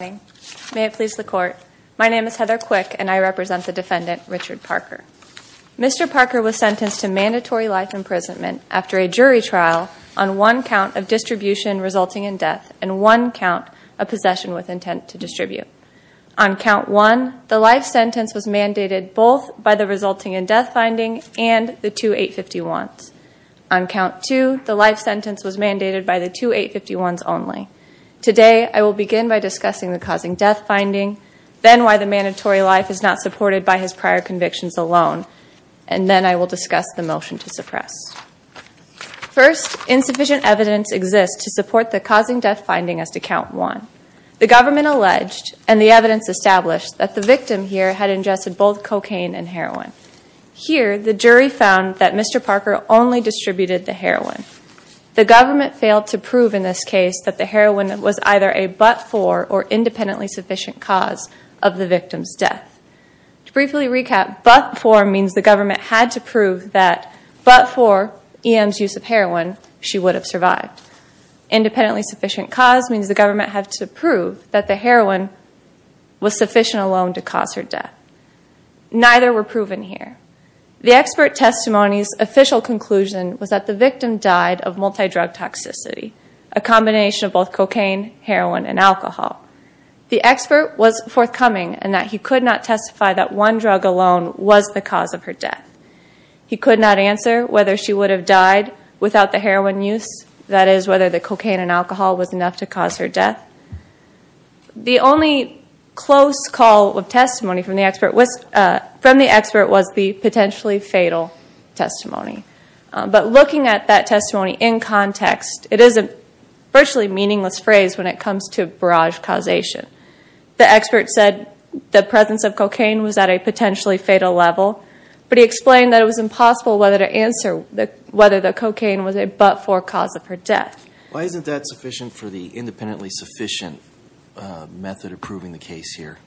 May it please the court. My name is Heather Quick and I represent the defendant Richard Parker. Mr. Parker was sentenced to mandatory life imprisonment after a jury trial on one count of distribution resulting in death and one count of possession with intent to distribute. On count one, the life sentence was mandated both by the resulting in death finding and the two 851s. On count two, the life sentence was mandated by the two 851s only. Today, I will begin by discussing the causing death finding, then why the mandatory life is not supported by his prior convictions alone, and then I will discuss the motion to suppress. First, insufficient evidence exists to support the causing death finding as to count one. The government alleged, and the evidence established, that the victim here had ingested both cocaine and heroin. Here, the jury found that Mr. Parker only distributed the heroin. The government failed to prove in this case that the heroin was either a but-for or independently sufficient cause of the victim's death. To briefly recap, but-for means the government had to prove that, but for EM's use of heroin, she would have survived. Independently sufficient cause means the government had to prove that the heroin was sufficient alone to cause her death. Neither were proven here. The expert testimony's official conclusion was that the victim died of multidrug toxicity, a combination of both cocaine, heroin, and alcohol. The expert was forthcoming in that he could not testify that one drug alone was the cause of her death. He could not answer whether she would have died without the heroin use, that is, whether the cocaine and alcohol was enough to cause her death. The only close call of testimony from the expert was the potentially fatal testimony. But looking at that testimony in context, it is a virtually meaningless phrase when it comes to barrage causation. The expert said the presence of cocaine was at a potentially fatal level, but he explained that it was impossible whether to answer whether the cocaine was a but-for cause of her death. Why isn't that sufficient for the independently sufficient method of proving the case here?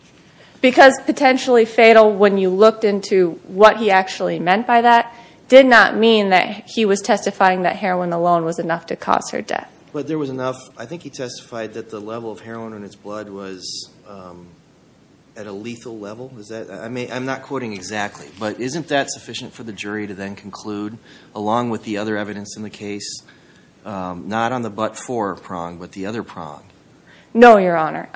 Because potentially fatal, when you looked into what he actually meant by that, did not mean that he was testifying that heroin alone was enough to cause her death. But there was enough. I think he testified that the level of heroin in his blood was at a lethal level. I'm not quoting exactly, but isn't that sufficient for the jury to then conclude, along with the other evidence in the case, not on the but-for prong, but the other prong? No, Your Honor.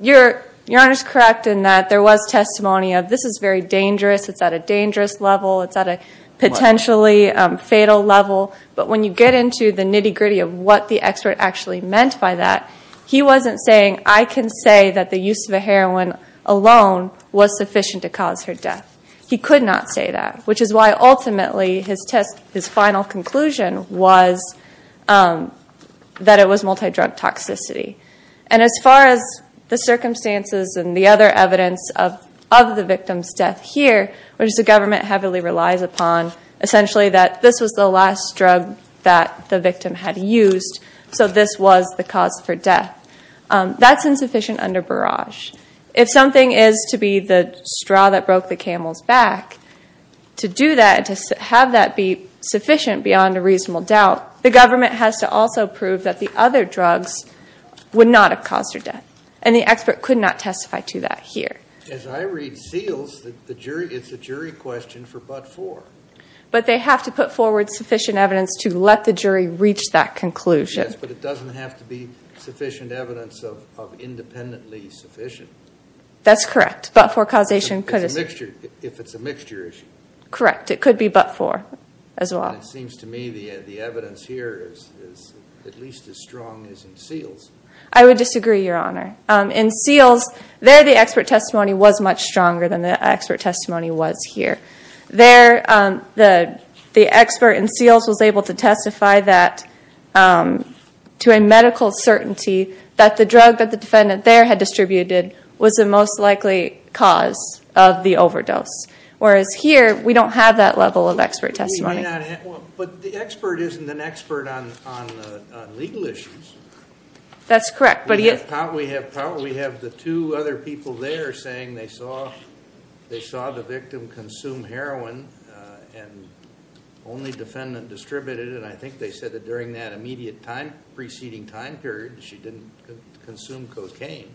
Your Honor is correct in that there was testimony of this is very dangerous, it's at a dangerous level, it's at a potentially fatal level. But when you get into the nitty-gritty of what the expert actually meant by that, he wasn't saying, I can say that the use of the heroin alone was sufficient to cause her death. He could not say that, which is why ultimately his final conclusion was that it was multidrug toxicity. And as far as the circumstances and the other evidence of the victim's death here, which the government heavily relies upon, essentially that this was the last drug that the victim had used, so this was the cause for death, that's insufficient under barrage. If something is to be the straw that broke the camel's back, to do that, to have that be sufficient beyond a reasonable doubt, the government has to also prove that the other drugs would not have caused her death. And the expert could not testify to that here. As I read seals, it's a jury question for but-for. But they have to put forward sufficient evidence to let the jury reach that conclusion. Yes, but it doesn't have to be sufficient evidence of independently sufficient. That's correct. But-for causation could as well. If it's a mixture issue. Correct. It could be but-for as well. It seems to me the evidence here is at least as strong as in seals. I would disagree, Your Honor. In seals, there the expert testimony was much stronger than the expert testimony was here. There, the expert in seals was able to testify that to a medical certainty that the drug that the defendant there had distributed was the most likely cause of the overdose. Whereas here, we don't have that level of expert testimony. But the expert isn't an expert on legal issues. That's correct. We have the two other people there saying they saw the victim consume heroin and only defendant distributed it. And I think they said that during that immediate time, preceding time period, she didn't consume cocaine.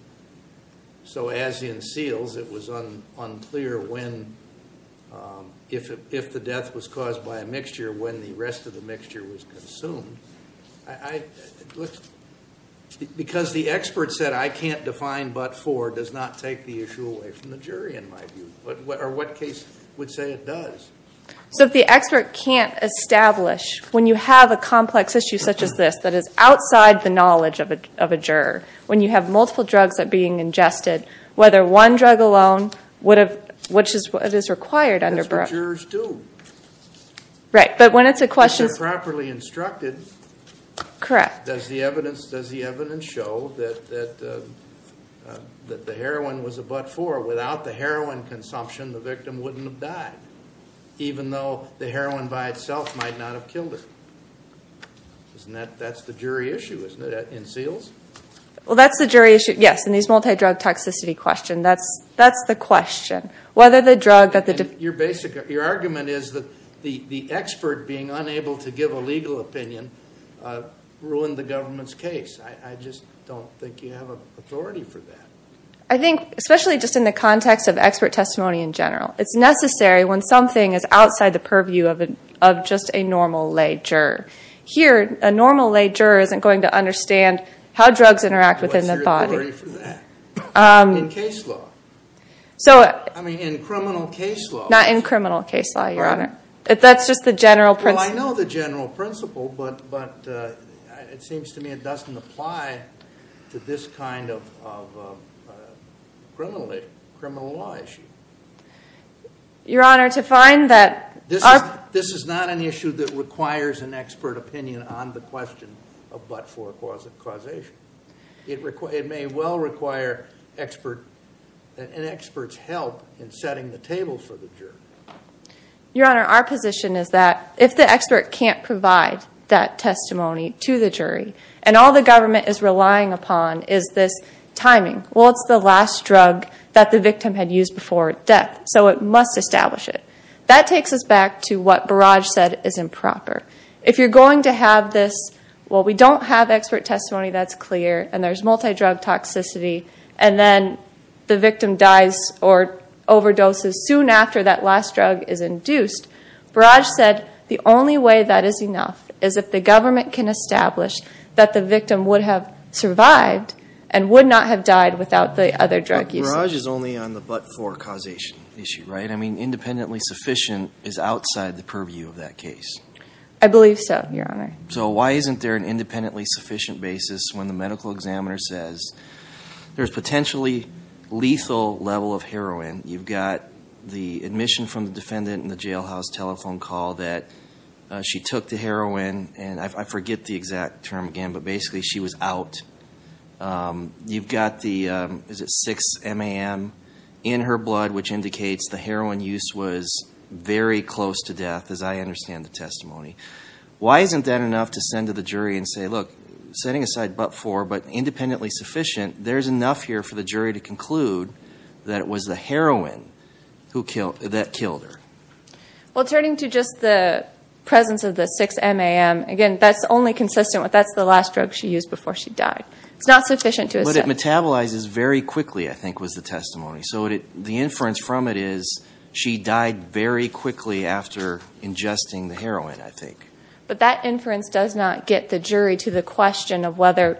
So as in seals, it was unclear when, if the death was caused by a mixture, when the rest of the mixture was consumed. Because the expert said I can't define but-for does not take the issue away from the jury, in my view. Or what case would say it does? So if the expert can't establish, when you have a complex issue such as this, that is outside the knowledge of a juror, when you have multiple drugs that are being ingested, whether one drug alone, which is what is required under Brook. That's what jurors do. Right, but when it's a question. When they're properly instructed. Correct. Does the evidence show that the heroin was a but-for? Without the heroin consumption, the victim wouldn't have died, even though the heroin by itself might not have killed her. That's the jury issue, isn't it, in seals? Well, that's the jury issue, yes, in these multi-drug toxicity questions. That's the question. Whether the drug that the- Your argument is that the expert being unable to give a legal opinion ruined the government's case. I just don't think you have authority for that. I think, especially just in the context of expert testimony in general, it's necessary when something is outside the purview of just a normal lay juror. Here, a normal lay juror isn't going to understand how drugs interact within the body. What's your authority for that? In case law. I mean, in criminal case law. Not in criminal case law, Your Honor. That's just the general principle. Well, I know the general principle, but it seems to me it doesn't apply to this kind of criminal law issue. Your Honor, to find that- This is not an issue that requires an expert opinion on the question of but-for causation. It may well require an expert's help in setting the table for the jury. Your Honor, our position is that if the expert can't provide that testimony to the jury, and all the government is relying upon is this timing, well, it's the last drug that the victim had used before death, so it must establish it. That takes us back to what Barrage said is improper. If you're going to have this, well, we don't have expert testimony that's clear, and there's multidrug toxicity, and then the victim dies or overdoses soon after that last drug is induced, Barrage said the only way that is enough is if the government can establish that the victim would have survived and would not have died without the other drug use. But Barrage is only on the but-for causation issue, right? I mean, independently sufficient is outside the purview of that case. I believe so, Your Honor. So why isn't there an independently sufficient basis when the medical examiner says there's potentially lethal level of heroin? You've got the admission from the defendant in the jailhouse telephone call that she took the heroin, and I forget the exact term again, but basically she was out. You've got the 6-MAM in her blood, which indicates the heroin use was very close to death, as I understand the testimony. Why isn't that enough to send to the jury and say, look, setting aside but-for but independently sufficient, there's enough here for the jury to conclude that it was the heroin that killed her? Well, turning to just the presence of the 6-MAM, again, that's only consistent with that's the last drug she used before she died. It's not sufficient to assume. But it metabolizes very quickly, I think was the testimony. So the inference from it is she died very quickly after ingesting the heroin, I think. But that inference does not get the jury to the question of whether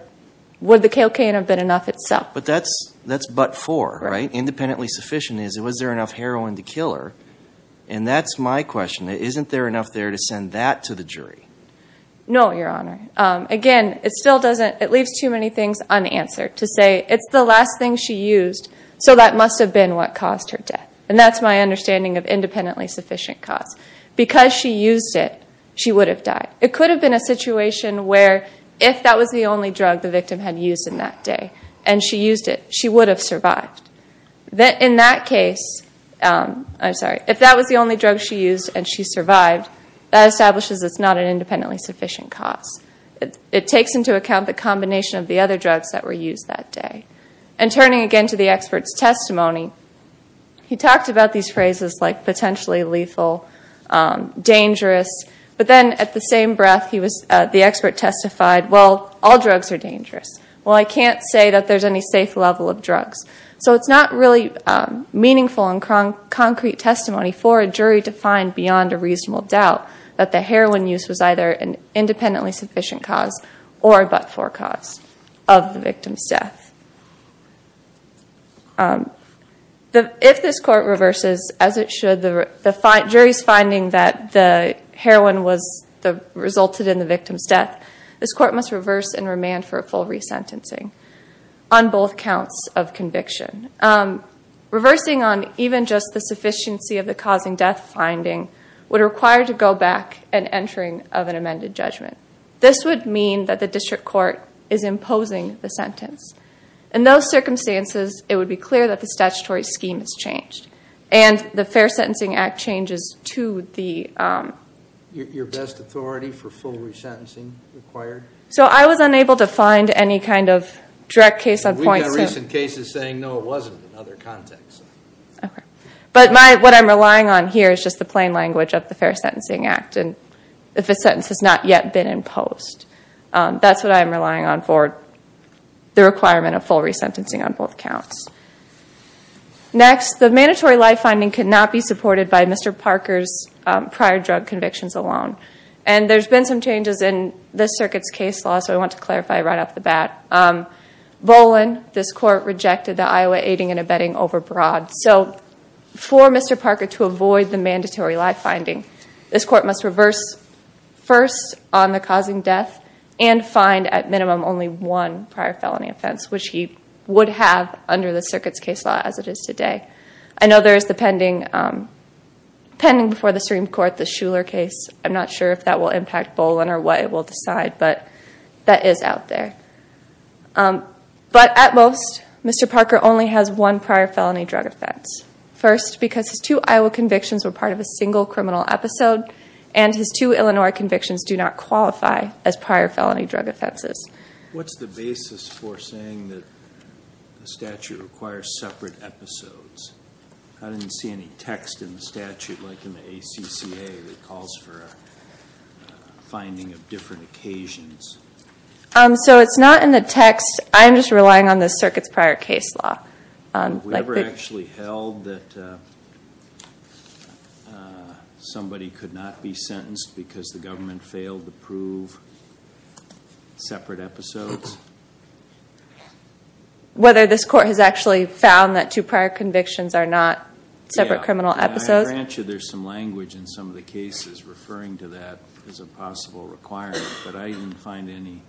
would the cocaine have been enough itself. But that's but-for, right? Was there enough heroin to kill her? And that's my question. Isn't there enough there to send that to the jury? No, Your Honor. Again, it still doesn't-it leaves too many things unanswered to say it's the last thing she used, so that must have been what caused her death. And that's my understanding of independently sufficient cause. Because she used it, she would have died. It could have been a situation where if that was the only drug the victim had used in that day and she used it, she would have survived. In that case-I'm sorry-if that was the only drug she used and she survived, that establishes it's not an independently sufficient cause. It takes into account the combination of the other drugs that were used that day. And turning again to the expert's testimony, he talked about these phrases like potentially lethal, dangerous. But then at the same breath, the expert testified, well, all drugs are dangerous. Well, I can't say that there's any safe level of drugs. So it's not really meaningful and concrete testimony for a jury to find beyond a reasonable doubt that the heroin use was either an independently sufficient cause or a but-for cause of the victim's death. If this Court reverses, as it should, the jury's finding that the heroin resulted in the victim's death, this Court must reverse and remand for a full resentencing on both counts of conviction. Reversing on even just the sufficiency of the causing death finding would require to go back and entering of an amended judgment. This would mean that the District Court is imposing the sentence. In those circumstances, it would be clear that the statutory scheme has changed and the Fair Sentencing Act changes to the- So I was unable to find any kind of direct case on point. We've had recent cases saying, no, it wasn't in other contexts. But what I'm relying on here is just the plain language of the Fair Sentencing Act. If a sentence has not yet been imposed, that's what I'm relying on for the requirement of full resentencing on both counts. Next, the mandatory life finding cannot be supported by Mr. Parker's prior drug convictions alone. And there's been some changes in this Circuit's case law, so I want to clarify right off the bat. Bolin, this Court, rejected the Iowa aiding and abetting overbroad. So for Mr. Parker to avoid the mandatory life finding, this Court must reverse first on the causing death and find at minimum only one prior felony offense, which he would have under the Circuit's case law as it is today. I know there is the pending before the Supreme Court, the Shuler case. I'm not sure if that will impact Bolin or what it will decide, but that is out there. But at most, Mr. Parker only has one prior felony drug offense. First, because his two Iowa convictions were part of a single criminal episode and his two Illinois convictions do not qualify as prior felony drug offenses. What's the basis for saying that the statute requires separate episodes? I didn't see any text in the statute like in the ACCA that calls for a finding of different occasions. So it's not in the text. I'm just relying on the Circuit's prior case law. Have we ever actually held that somebody could not be sentenced because the government failed to prove separate episodes? Whether this Court has actually found that two prior convictions are not separate criminal episodes? I grant you there's some language in some of the cases referring to that as a possible requirement. But I didn't find any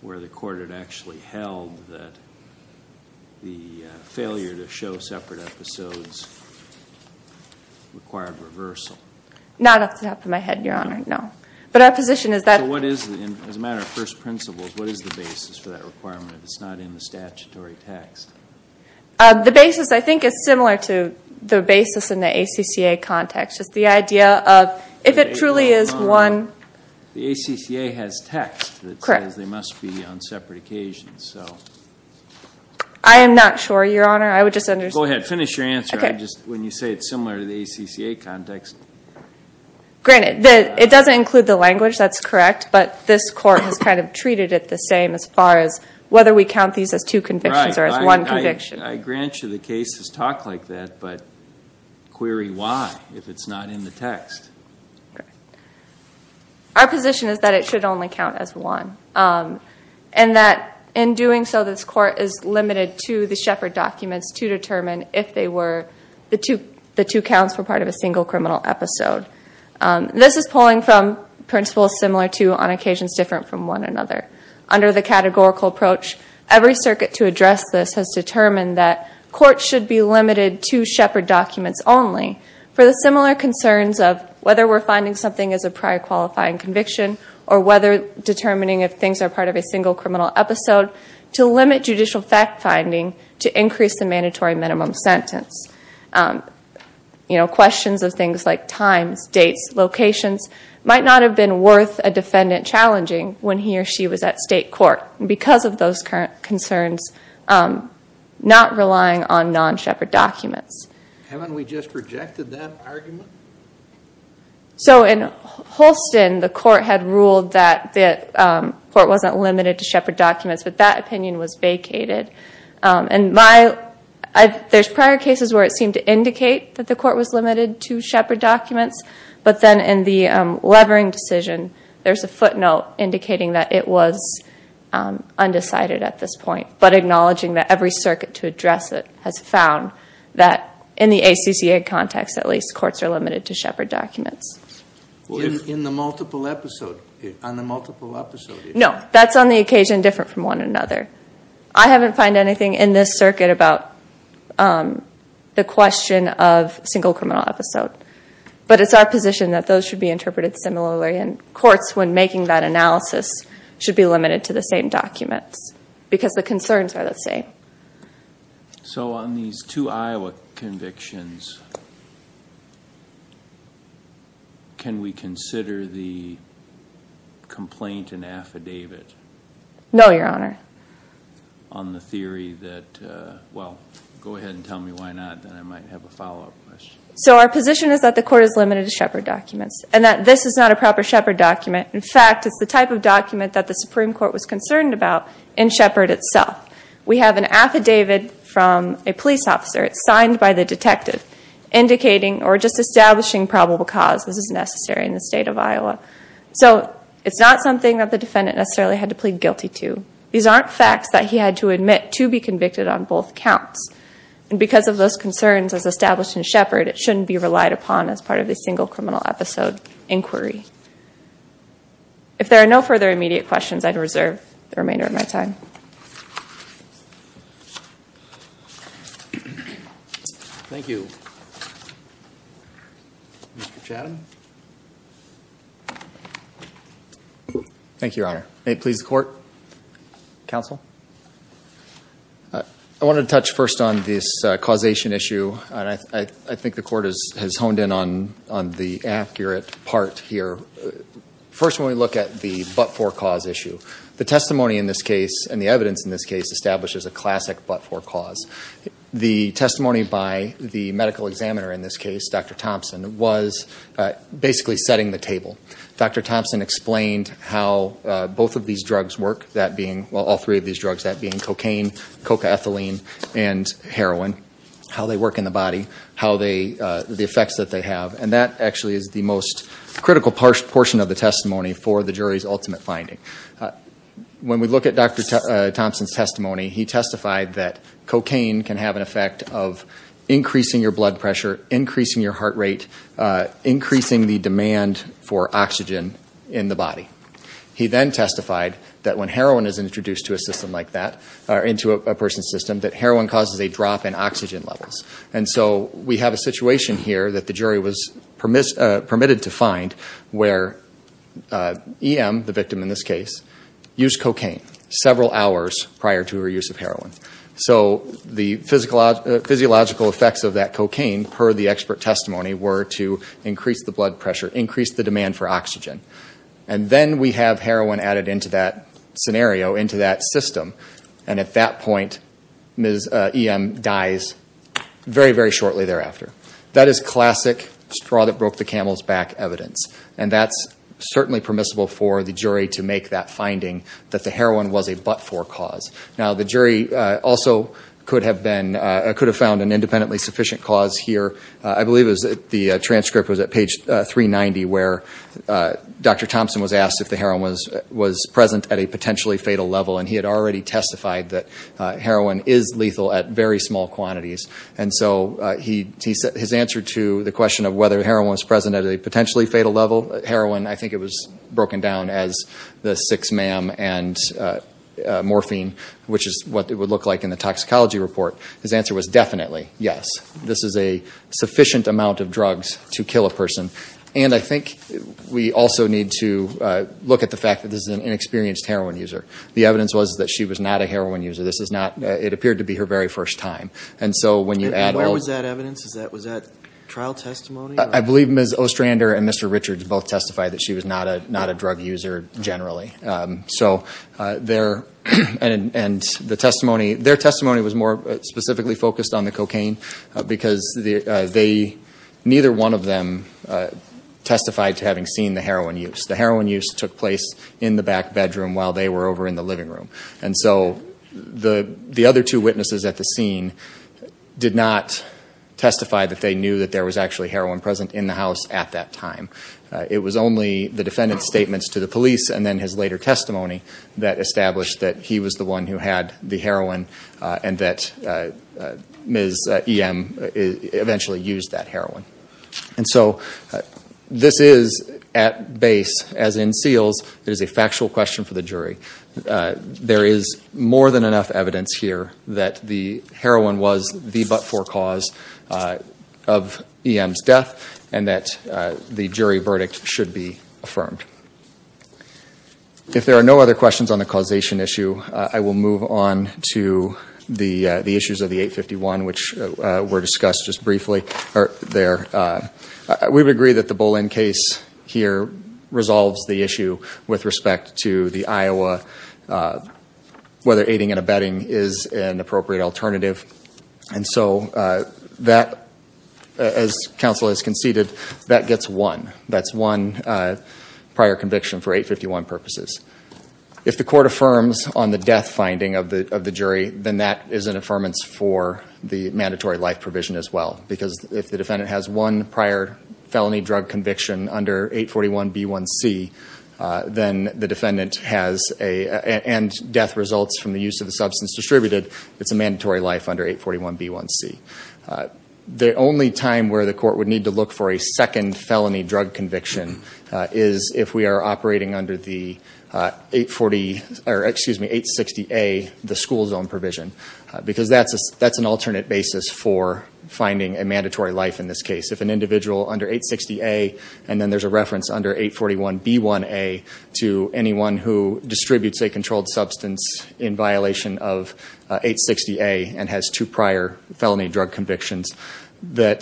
where the Court had actually held that the failure to show separate episodes required reversal. Not off the top of my head, Your Honor, no. But our position is that... So what is, as a matter of first principles, what is the basis for that requirement if it's not in the statutory text? The basis, I think, is similar to the basis in the ACCA context. Just the idea of if it truly is one... The ACCA has text that says they must be on separate occasions. I am not sure, Your Honor. I would just understand... Go ahead. Finish your answer when you say it's similar to the ACCA context. Granted, it doesn't include the language. That's correct. But this Court has kind of treated it the same as far as whether we count these as two convictions or as one conviction. I grant you the cases talk like that, but query why if it's not in the text. Our position is that it should only count as one. And that in doing so, this Court is limited to the Shepard documents to determine if they were... The two counts were part of a single criminal episode. This is pulling from principles similar to, on occasions different from, one another. Under the categorical approach, every circuit to address this has determined that courts should be limited to Shepard documents only for the similar concerns of whether we're finding something as a prior qualifying conviction or whether determining if things are part of a single criminal episode to limit judicial fact-finding to increase the mandatory minimum sentence. Questions of things like times, dates, locations might not have been worth a defendant challenging when he or she was at state court because of those current concerns not relying on non-Shepard documents. Haven't we just rejected that argument? So in Holston, the Court had ruled that the Court wasn't limited to Shepard documents, but that opinion was vacated. There's prior cases where it seemed to indicate that the Court was limited to Shepard documents, but then in the Levering decision, there's a footnote indicating that it was undecided at this point, but acknowledging that every circuit to address it has found that in the ACCA context, at least, courts are limited to Shepard documents. In the multiple episode, on the multiple episode... No, that's on the occasion different from one another. I haven't found anything in this circuit about the question of single criminal episode, but it's our position that those should be interpreted similarly, and courts, when making that analysis, should be limited to the same documents because the concerns are the same. So on these two Iowa convictions, can we consider the complaint an affidavit? No, Your Honor. On the theory that, well, go ahead and tell me why not, then I might have a follow-up question. So our position is that the Court is limited to Shepard documents, and that this is not a proper Shepard document. In fact, it's the type of document that the Supreme Court was concerned about in Shepard itself. We have an affidavit from a police officer. It's signed by the detective indicating or just establishing probable cause. This is necessary in the state of Iowa. So it's not something that the defendant necessarily had to plead guilty to. These aren't facts that he had to admit to be convicted on both counts. And because of those concerns as established in Shepard, it shouldn't be relied upon as part of a single criminal episode inquiry. If there are no further immediate questions, I'd reserve the remainder of my time. Thank you. Mr. Chatham. Thank you, Your Honor. May it please the Court. Counsel. I want to touch first on this causation issue. I think the Court has honed in on the accurate part here. First, when we look at the but-for cause issue, the testimony in this case and the evidence in this case establishes a classic but-for cause. The testimony by the medical examiner in this case, Dr. Thompson, was basically setting the table. Dr. Thompson explained how both of these drugs work, well, all three of these drugs, that being cocaine, cocaethylene, and heroin, how they work in the body, the effects that they have. And that actually is the most critical portion of the testimony for the jury's ultimate finding. When we look at Dr. Thompson's testimony, he testified that cocaine can have an effect of increasing your blood pressure, increasing your heart rate, increasing the demand for oxygen in the body. He then testified that when heroin is introduced to a system like that, or into a person's system, that heroin causes a drop in oxygen levels. And so we have a situation here that the jury was permitted to find where EM, the victim in this case, used cocaine several hours prior to her use of heroin. So the physiological effects of that cocaine, per the expert testimony, were to increase the blood pressure, increase the demand for oxygen. And then we have heroin added into that scenario, into that system, and at that point EM dies very, very shortly thereafter. That is classic straw-that-broke-the-camel's-back evidence. And that's certainly permissible for the jury to make that finding that the heroin was a but-for cause. Now, the jury also could have found an independently sufficient cause here. I believe the transcript was at page 390, where Dr. Thompson was asked if the heroin was present at a potentially fatal level, and he had already testified that heroin is lethal at very small quantities. And so his answer to the question of whether heroin was present at a potentially fatal level, heroin, I think it was broken down as the six ma'am and morphine, which is what it would look like in the toxicology report. His answer was definitely yes. This is a sufficient amount of drugs to kill a person. And I think we also need to look at the fact that this is an inexperienced heroin user. The evidence was that she was not a heroin user. This is not-it appeared to be her very first time. And so when you add all- And where was that evidence? Was that trial testimony? I believe Ms. Ostrander and Mr. Richards both testified that she was not a drug user generally. So their-and the testimony-their testimony was more specifically focused on the cocaine because they-neither one of them testified to having seen the heroin use. The heroin use took place in the back bedroom while they were over in the living room. And so the other two witnesses at the scene did not testify that they knew that there was actually heroin present in the house at that time. It was only the defendant's statements to the police and then his later testimony that established that he was the one who had the heroin and that Ms. E.M. eventually used that heroin. And so this is, at base, as in seals, it is a factual question for the jury. There is more than enough evidence here that the heroin was the but-for cause of E.M.'s death and that the jury verdict should be affirmed. If there are no other questions on the causation issue, I will move on to the issues of the 851, which were discussed just briefly there. We would agree that the Bolin case here resolves the issue with respect to the Iowa, whether aiding and abetting is an appropriate alternative. And so that, as counsel has conceded, that gets one. That's one prior conviction for 851 purposes. If the court affirms on the death finding of the jury, then that is an affirmance for the mandatory life provision as well, because if the defendant has one prior felony drug conviction under 841b1c, then the defendant has a, and death results from the use of the substance distributed, it's a mandatory life under 841b1c. The only time where the court would need to look for a second felony drug conviction is if we are operating under the 860a, the school zone provision, because that's an alternate basis for finding a mandatory life in this case. If an individual under 860a, and then there's a reference under 841b1a to anyone who distributes a controlled substance in violation of 860a and has two prior felony drug convictions, that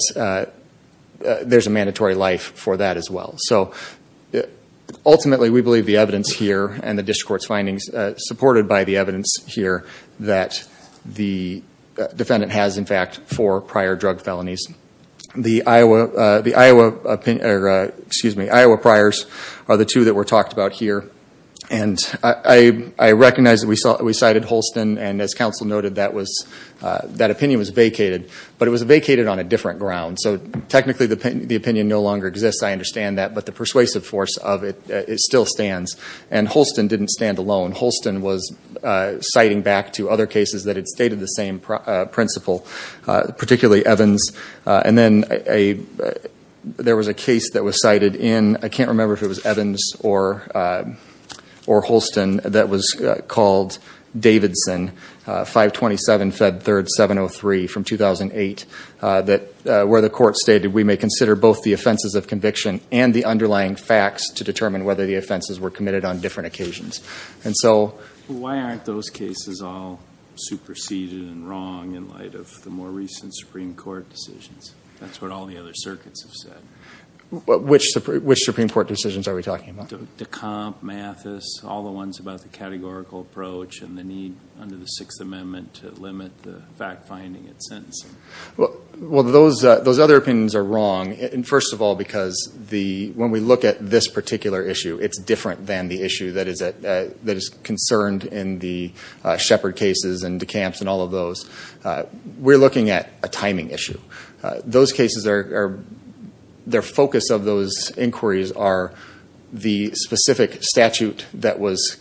there's a mandatory life for that as well. So ultimately, we believe the evidence here and the district court's findings, supported by the evidence here, that the defendant has, in fact, four prior drug felonies. The Iowa priors are the two that were talked about here. And I recognize that we cited Holston, and as counsel noted, that opinion was vacated. But it was vacated on a different ground. So technically the opinion no longer exists, I understand that, but the persuasive force of it still stands. And Holston didn't stand alone. Holston was citing back to other cases that had stated the same principle, particularly Evans. And then there was a case that was cited in, I can't remember if it was Evans or Holston, that was called Davidson, 527 Fed 3rd 703 from 2008, where the court stated we may consider both the offenses of conviction and the underlying facts to determine whether the offenses were committed on different occasions. And so why aren't those cases all superseded and wrong in light of the more recent Supreme Court decisions? That's what all the other circuits have said. Which Supreme Court decisions are we talking about? De Camp, Mathis, all the ones about the categorical approach and the need under the Sixth Amendment to limit the fact-finding and sentencing. Well, those other opinions are wrong, first of all, because when we look at this particular issue, it's different than the issue that is concerned in the Shepard cases and De Camp's and all of those. We're looking at a timing issue. Those cases, their focus of those inquiries are the specific statute that was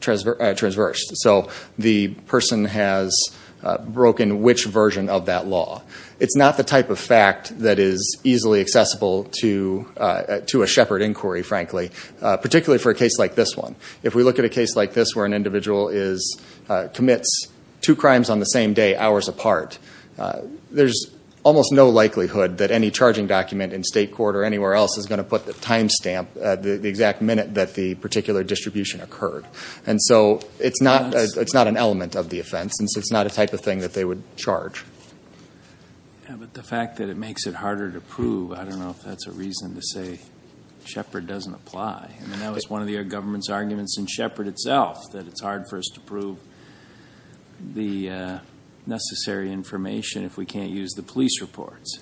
transversed. So the person has broken which version of that law. It's not the type of fact that is easily accessible to a Shepard inquiry, frankly, particularly for a case like this one. If we look at a case like this where an individual commits two crimes on the same day, hours apart, there's almost no likelihood that any charging document in state court or anywhere else is going to put the time stamp, the exact minute that the particular distribution occurred. And so it's not an element of the offense, and so it's not a type of thing that they would charge. Yeah, but the fact that it makes it harder to prove, I don't know if that's a reason to say Shepard doesn't apply. I mean, that was one of the government's arguments in Shepard itself, that it's hard for us to prove the necessary information if we can't use the police reports.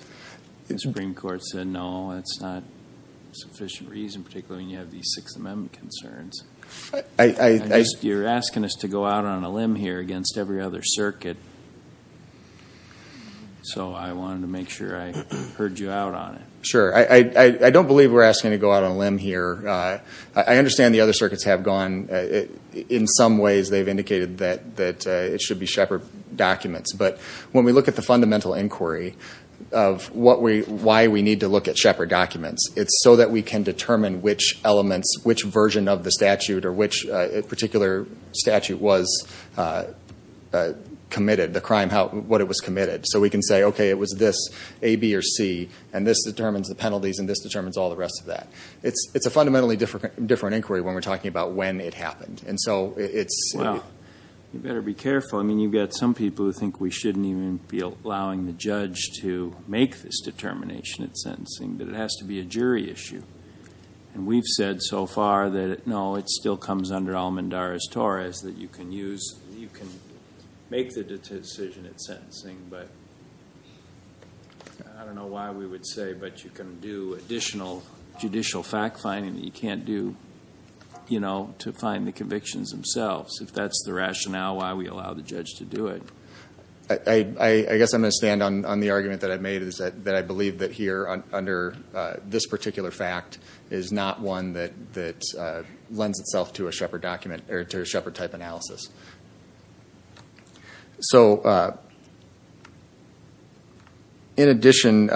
The Supreme Court said no, that's not sufficient reason, particularly when you have these Sixth Amendment concerns. You're asking us to go out on a limb here against every other circuit. So I wanted to make sure I heard you out on it. Sure. I don't believe we're asking to go out on a limb here. I understand the other circuits have gone, in some ways they've indicated that it should be Shepard documents. But when we look at the fundamental inquiry of why we need to look at Shepard documents, it's so that we can determine which elements, which version of the statute or which particular statute was committed, the crime, what it was committed, so we can say, okay, it was this, A, B, or C, and this determines the penalties and this determines all the rest of that. It's a fundamentally different inquiry when we're talking about when it happened. Well, you better be careful. I mean, you've got some people who think we shouldn't even be allowing the judge to make this determination in sentencing, that it has to be a jury issue. And we've said so far that, no, it still comes under Almendarez-Torres, that you can use, you can make the decision in sentencing, but I don't know why we would say, but you can do additional judicial fact-finding that you can't do to find the convictions themselves, if that's the rationale why we allow the judge to do it. I guess I'm going to stand on the argument that I made, is that I believe that here, under this particular fact, is not one that lends itself to a Shepard-type analysis. So, in addition,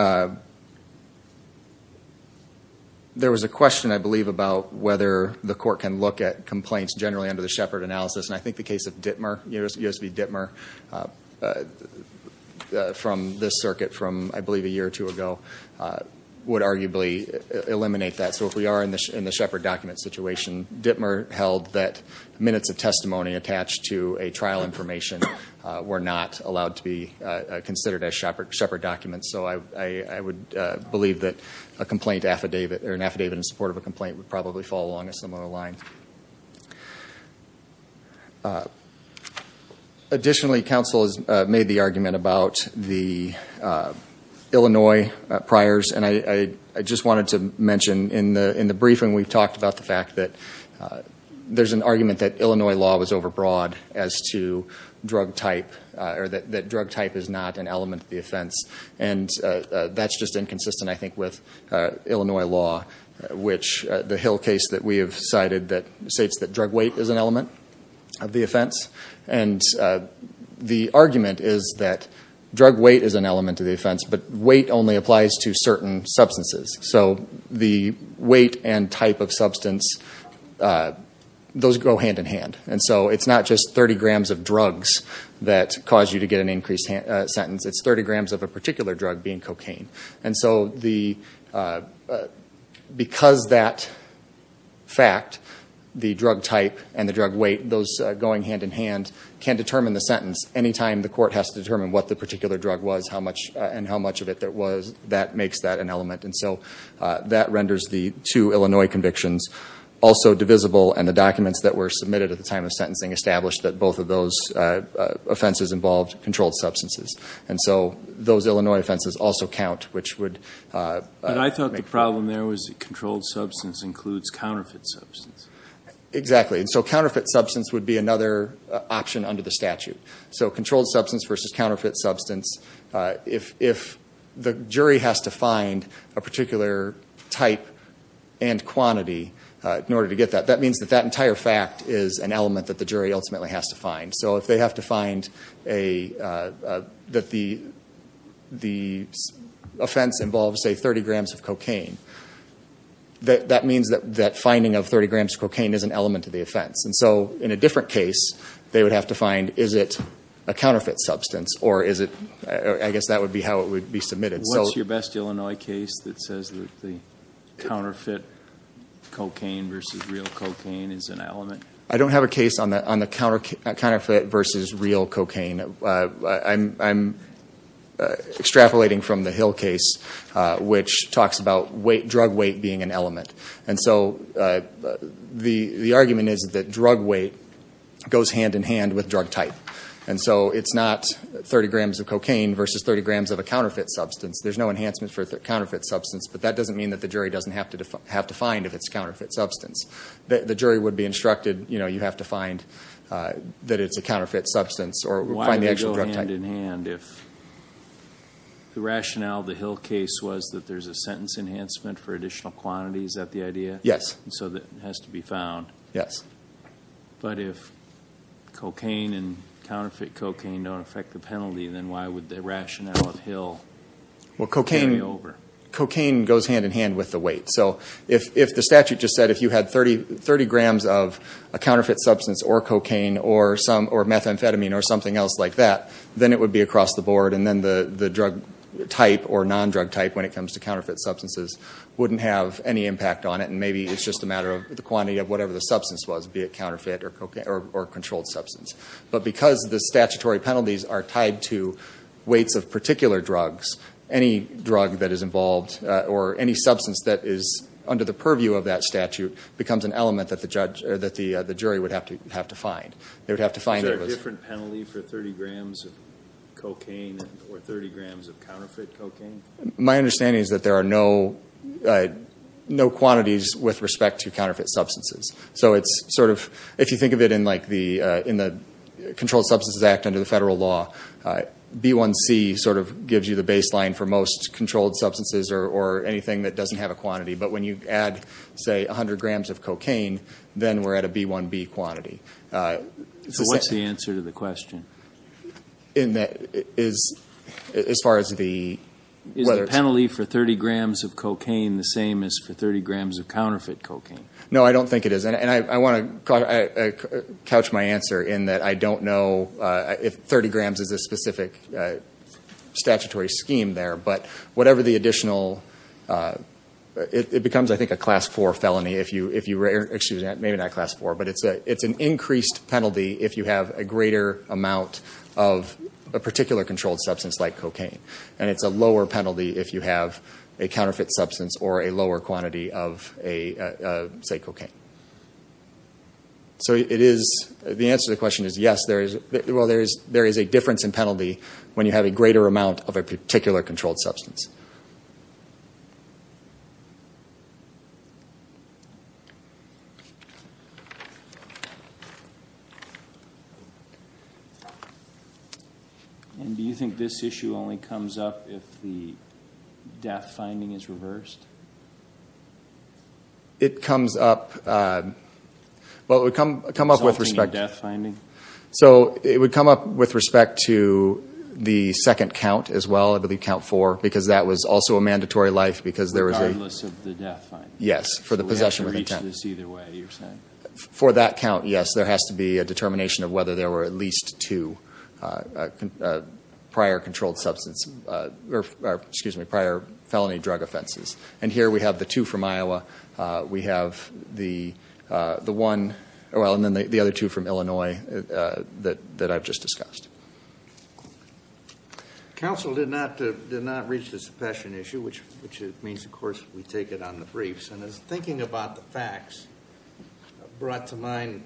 there was a question, I believe, about whether the court can look at complaints generally under the Shepard analysis, and I think the case of Dittmer, U.S. v. Dittmer, from this circuit from, I believe, a year or two ago, would arguably eliminate that. So if we are in the Shepard document situation, Dittmer held that minutes of testimony attached to a trial information were not allowed to be considered as Shepard documents, so I would believe that a complaint affidavit, or an affidavit in support of a complaint would probably fall along a similar line. Additionally, counsel has made the argument about the Illinois priors, and I just wanted to mention in the briefing, we've talked about the fact that there's an argument that Illinois law was overbroad as to drug type, or that drug type is not an element of the offense, and that's just inconsistent, I think, with Illinois law, which the Hill case that we have cited states that drug weight is an element of the offense, and the argument is that drug weight is an element of the offense, but weight only applies to certain substances, so the weight and type of substance, those go hand in hand, and so it's not just 30 grams of drugs that cause you to get an increased sentence, it's 30 grams of a particular drug being cocaine, and so because that fact, the drug type and the drug weight, those going hand in hand can determine the sentence. Any time the court has to determine what the particular drug was and how much of it there was, that makes that an element, and so that renders the two Illinois convictions also divisible, and the documents that were submitted at the time of sentencing established that both of those offenses involved controlled substances, and so those Illinois offenses also count, which would make... But I thought the problem there was that controlled substance includes counterfeit substance. Exactly, and so counterfeit substance would be another option under the statute, so controlled substance versus counterfeit substance, if the jury has to find a particular type and quantity in order to get that, that means that that entire fact is an element that the jury ultimately has to find, so if they have to find that the offense involves, say, 30 grams of cocaine, that means that that finding of 30 grams of cocaine is an element to the offense, and so in a different case they would have to find is it a counterfeit substance or is it, I guess that would be how it would be submitted. What's your best Illinois case that says the counterfeit cocaine versus real cocaine is an element? I don't have a case on the counterfeit versus real cocaine. I'm extrapolating from the Hill case, which talks about drug weight being an element, and so the argument is that drug weight goes hand-in-hand with drug type, and so it's not 30 grams of cocaine versus 30 grams of a counterfeit substance. There's no enhancement for counterfeit substance, but that doesn't mean that the jury doesn't have to find if it's a counterfeit substance. The jury would be instructed, you know, you have to find that it's a counterfeit substance or find the actual drug type. Why would it go hand-in-hand if the rationale of the Hill case was that there's a sentence enhancement for additional quantities? Is that the idea? Yes. So that it has to be found? Yes. But if cocaine and counterfeit cocaine don't affect the penalty, then why would the rationale of Hill carry over? Well, cocaine goes hand-in-hand with the weight, so if the statute just said if you had 30 grams of a counterfeit substance or cocaine or methamphetamine or something else like that, then it would be across the board, and then the drug type or non-drug type when it comes to counterfeit substances wouldn't have any impact on it, and maybe it's just a matter of the quantity of whatever the substance was, be it counterfeit or controlled substance. But because the statutory penalties are tied to weights of particular drugs, any drug that is involved or any substance that is under the purview of that statute becomes an element that the jury would have to find. Is there a different penalty for 30 grams of cocaine or 30 grams of counterfeit cocaine? My understanding is that there are no quantities with respect to counterfeit substances. So if you think of it in the Controlled Substances Act under the federal law, B1C sort of gives you the baseline for most controlled substances or anything that doesn't have a quantity. But when you add, say, 100 grams of cocaine, then we're at a B1B quantity. So what's the answer to the question? As far as the whether it's... Is the penalty for 30 grams of cocaine the same as for 30 grams of counterfeit cocaine? No, I don't think it is. And I want to couch my answer in that I don't know if 30 grams is a specific statutory scheme there. But whatever the additional... It becomes, I think, a Class 4 felony if you... Excuse me, maybe not Class 4, but it's an increased penalty if you have a greater amount of a particular controlled substance like cocaine. And it's a lower penalty if you have a counterfeit substance or a lower quantity of, say, cocaine. So the answer to the question is yes, there is a difference in penalty when you have a greater amount of a particular controlled substance. And do you think this issue only comes up if the death finding is reversed? It comes up... Well, it would come up with respect to... Resulting in death finding? So it would come up with respect to the second count as well, I believe Count 4, because that was also a mandatory life because there was a... Regardless of the death finding? Yes, for the possession of intent. So we have to reach this either way, you're saying? For that count, yes. There has to be a determination of whether there were at least two prior controlled substance... Or, excuse me, prior felony drug offenses. And here we have the two from Iowa. We have the one... Well, and then the other two from Illinois that I've just discussed. Counsel did not reach the suppression issue, which means, of course, we take it on the briefs. And as thinking about the facts brought to mind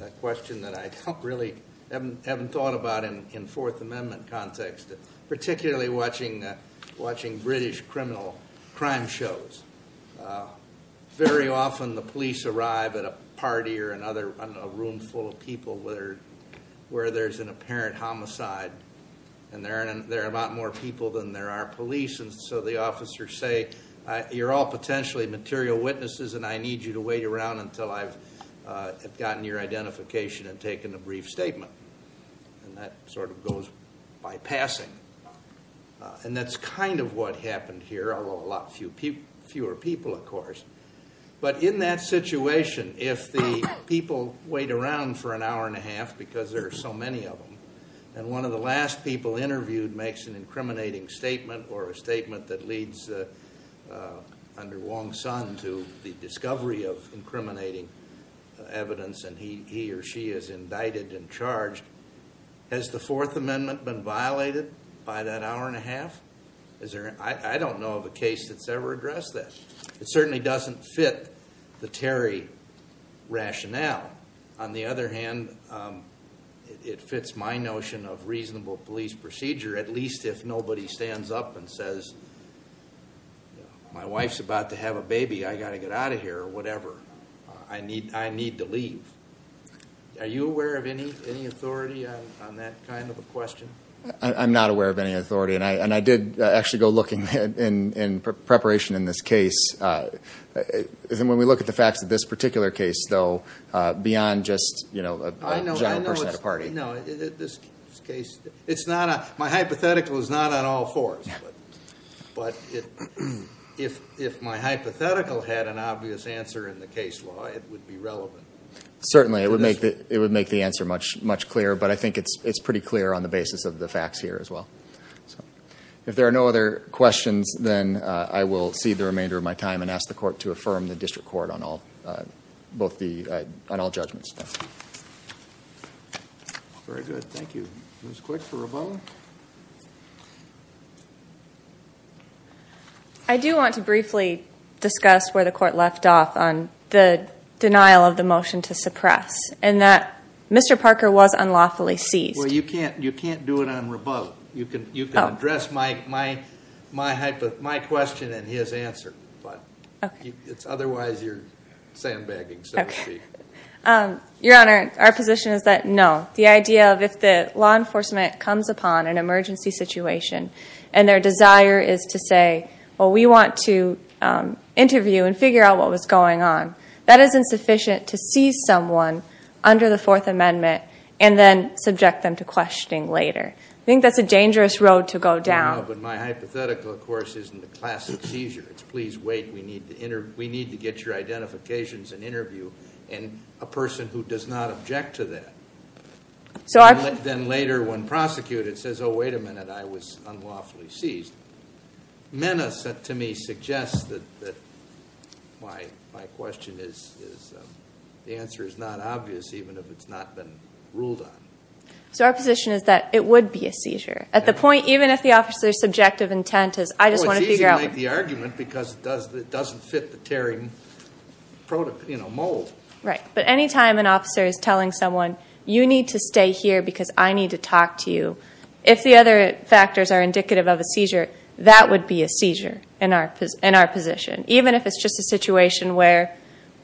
a question that I really haven't thought about in Fourth Amendment context, particularly watching British criminal crime shows. Very often the police arrive at a party or a room full of people where there's an apparent homicide, and there are a lot more people than there are police. And so the officers say, you're all potentially material witnesses, and I need you to wait around until I've gotten your identification and taken a brief statement. And that sort of goes by passing. And that's kind of what happened here, although a lot fewer people, of course. But in that situation, if the people wait around for an hour and a half because there are so many of them, and one of the last people interviewed makes an incriminating statement or a statement that leads under Wong's son to the discovery of incriminating evidence, and he or she is indicted and charged, has the Fourth Amendment been violated by that hour and a half? I don't know of a case that's ever addressed that. It certainly doesn't fit the Terry rationale. On the other hand, it fits my notion of reasonable police procedure, at least if nobody stands up and says, my wife's about to have a baby, I've got to get out of here, or whatever. I need to leave. Are you aware of any authority on that kind of a question? I'm not aware of any authority, and I did actually go looking in preparation in this case. When we look at the facts of this particular case, though, beyond just a giant person at a party. No, this case, it's not a, my hypothetical is not on all fours. But if my hypothetical had an obvious answer in the case law, it would be relevant. Certainly, it would make the answer much clearer. But I think it's pretty clear on the basis of the facts here, as well. If there are no other questions, then I will cede the remainder of my time and ask the court to affirm the district court on all judgments. Very good. Thank you. It was quick for a vote. I do want to briefly discuss where the court left off on the denial of the motion to suppress. And that Mr. Parker was unlawfully seized. Well, you can't do it on rebuttal. You can address my question and his answer. But it's otherwise you're sandbagging, so to speak. Your Honor, our position is that no. The idea of if the law enforcement comes upon an emergency situation, and their desire is to say, well, we want to interview and figure out what was going on. That is insufficient to seize someone under the Fourth Amendment and then subject them to questioning later. I think that's a dangerous road to go down. But my hypothetical, of course, isn't a classic seizure. It's please wait. We need to get your identifications and interview a person who does not object to that. Then later, when prosecuted, it says, oh, wait a minute, I was unlawfully seized. Menace to me suggests that my question is, the answer is not obvious even if it's not been ruled on. So our position is that it would be a seizure. At the point, even if the officer's subjective intent is, I just want to figure out- Oh, it's easy to make the argument because it doesn't fit the tearing mold. Right, but any time an officer is telling someone, you need to stay here because I need to talk to you, if the other factors are indicative of a seizure, that would be a seizure in our position. Even if it's just a situation where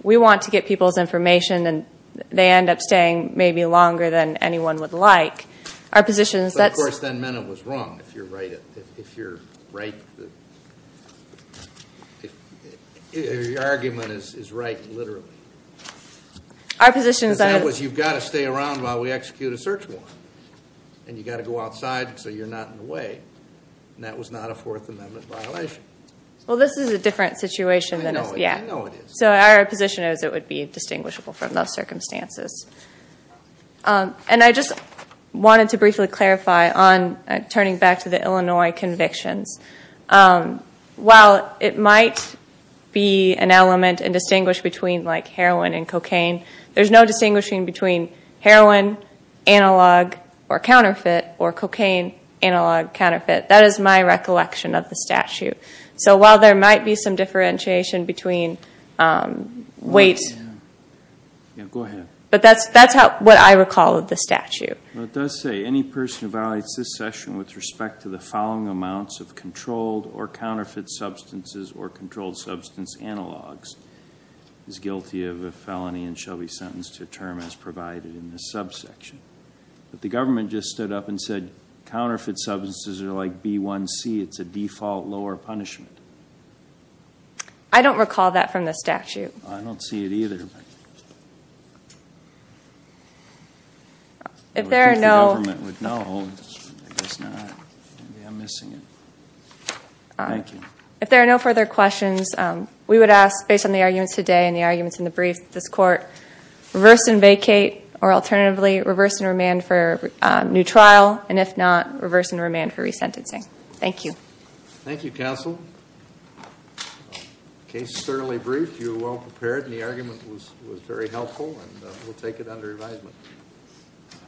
we want to get people's information and they end up staying maybe longer than anyone would like, our position is that- Of course, then Mena was wrong, if you're right. Your argument is right, literally. Our position is that- So you're not in the way, and that was not a Fourth Amendment violation. Well, this is a different situation than- I know it is. So our position is it would be distinguishable from those circumstances. And I just wanted to briefly clarify on turning back to the Illinois convictions. While it might be an element and distinguish between like heroin and cocaine, there's no distinguishing between heroin analog or counterfeit or cocaine analog counterfeit. That is my recollection of the statute. So while there might be some differentiation between weight- Yeah, go ahead. But that's what I recall of the statute. Well, it does say, any person who violates this session with respect to the following amounts of controlled or counterfeit substances or controlled substance analogs is guilty of a felony and shall be sentenced to a term as provided in this subsection. But the government just stood up and said, counterfeit substances are like B1C, it's a default lower punishment. I don't recall that from the statute. I don't see it either. If there are no- If the government would know, I guess not. Maybe I'm missing it. Thank you. If there are no further questions, we would ask, based on the arguments today and the arguments in the brief, that this court reverse and vacate or alternatively reverse and remand for a new trial, and if not, reverse and remand for resentencing. Thank you. Thank you, counsel. The case is certainly brief. You were well prepared and the argument was very helpful. We'll take it under advisement.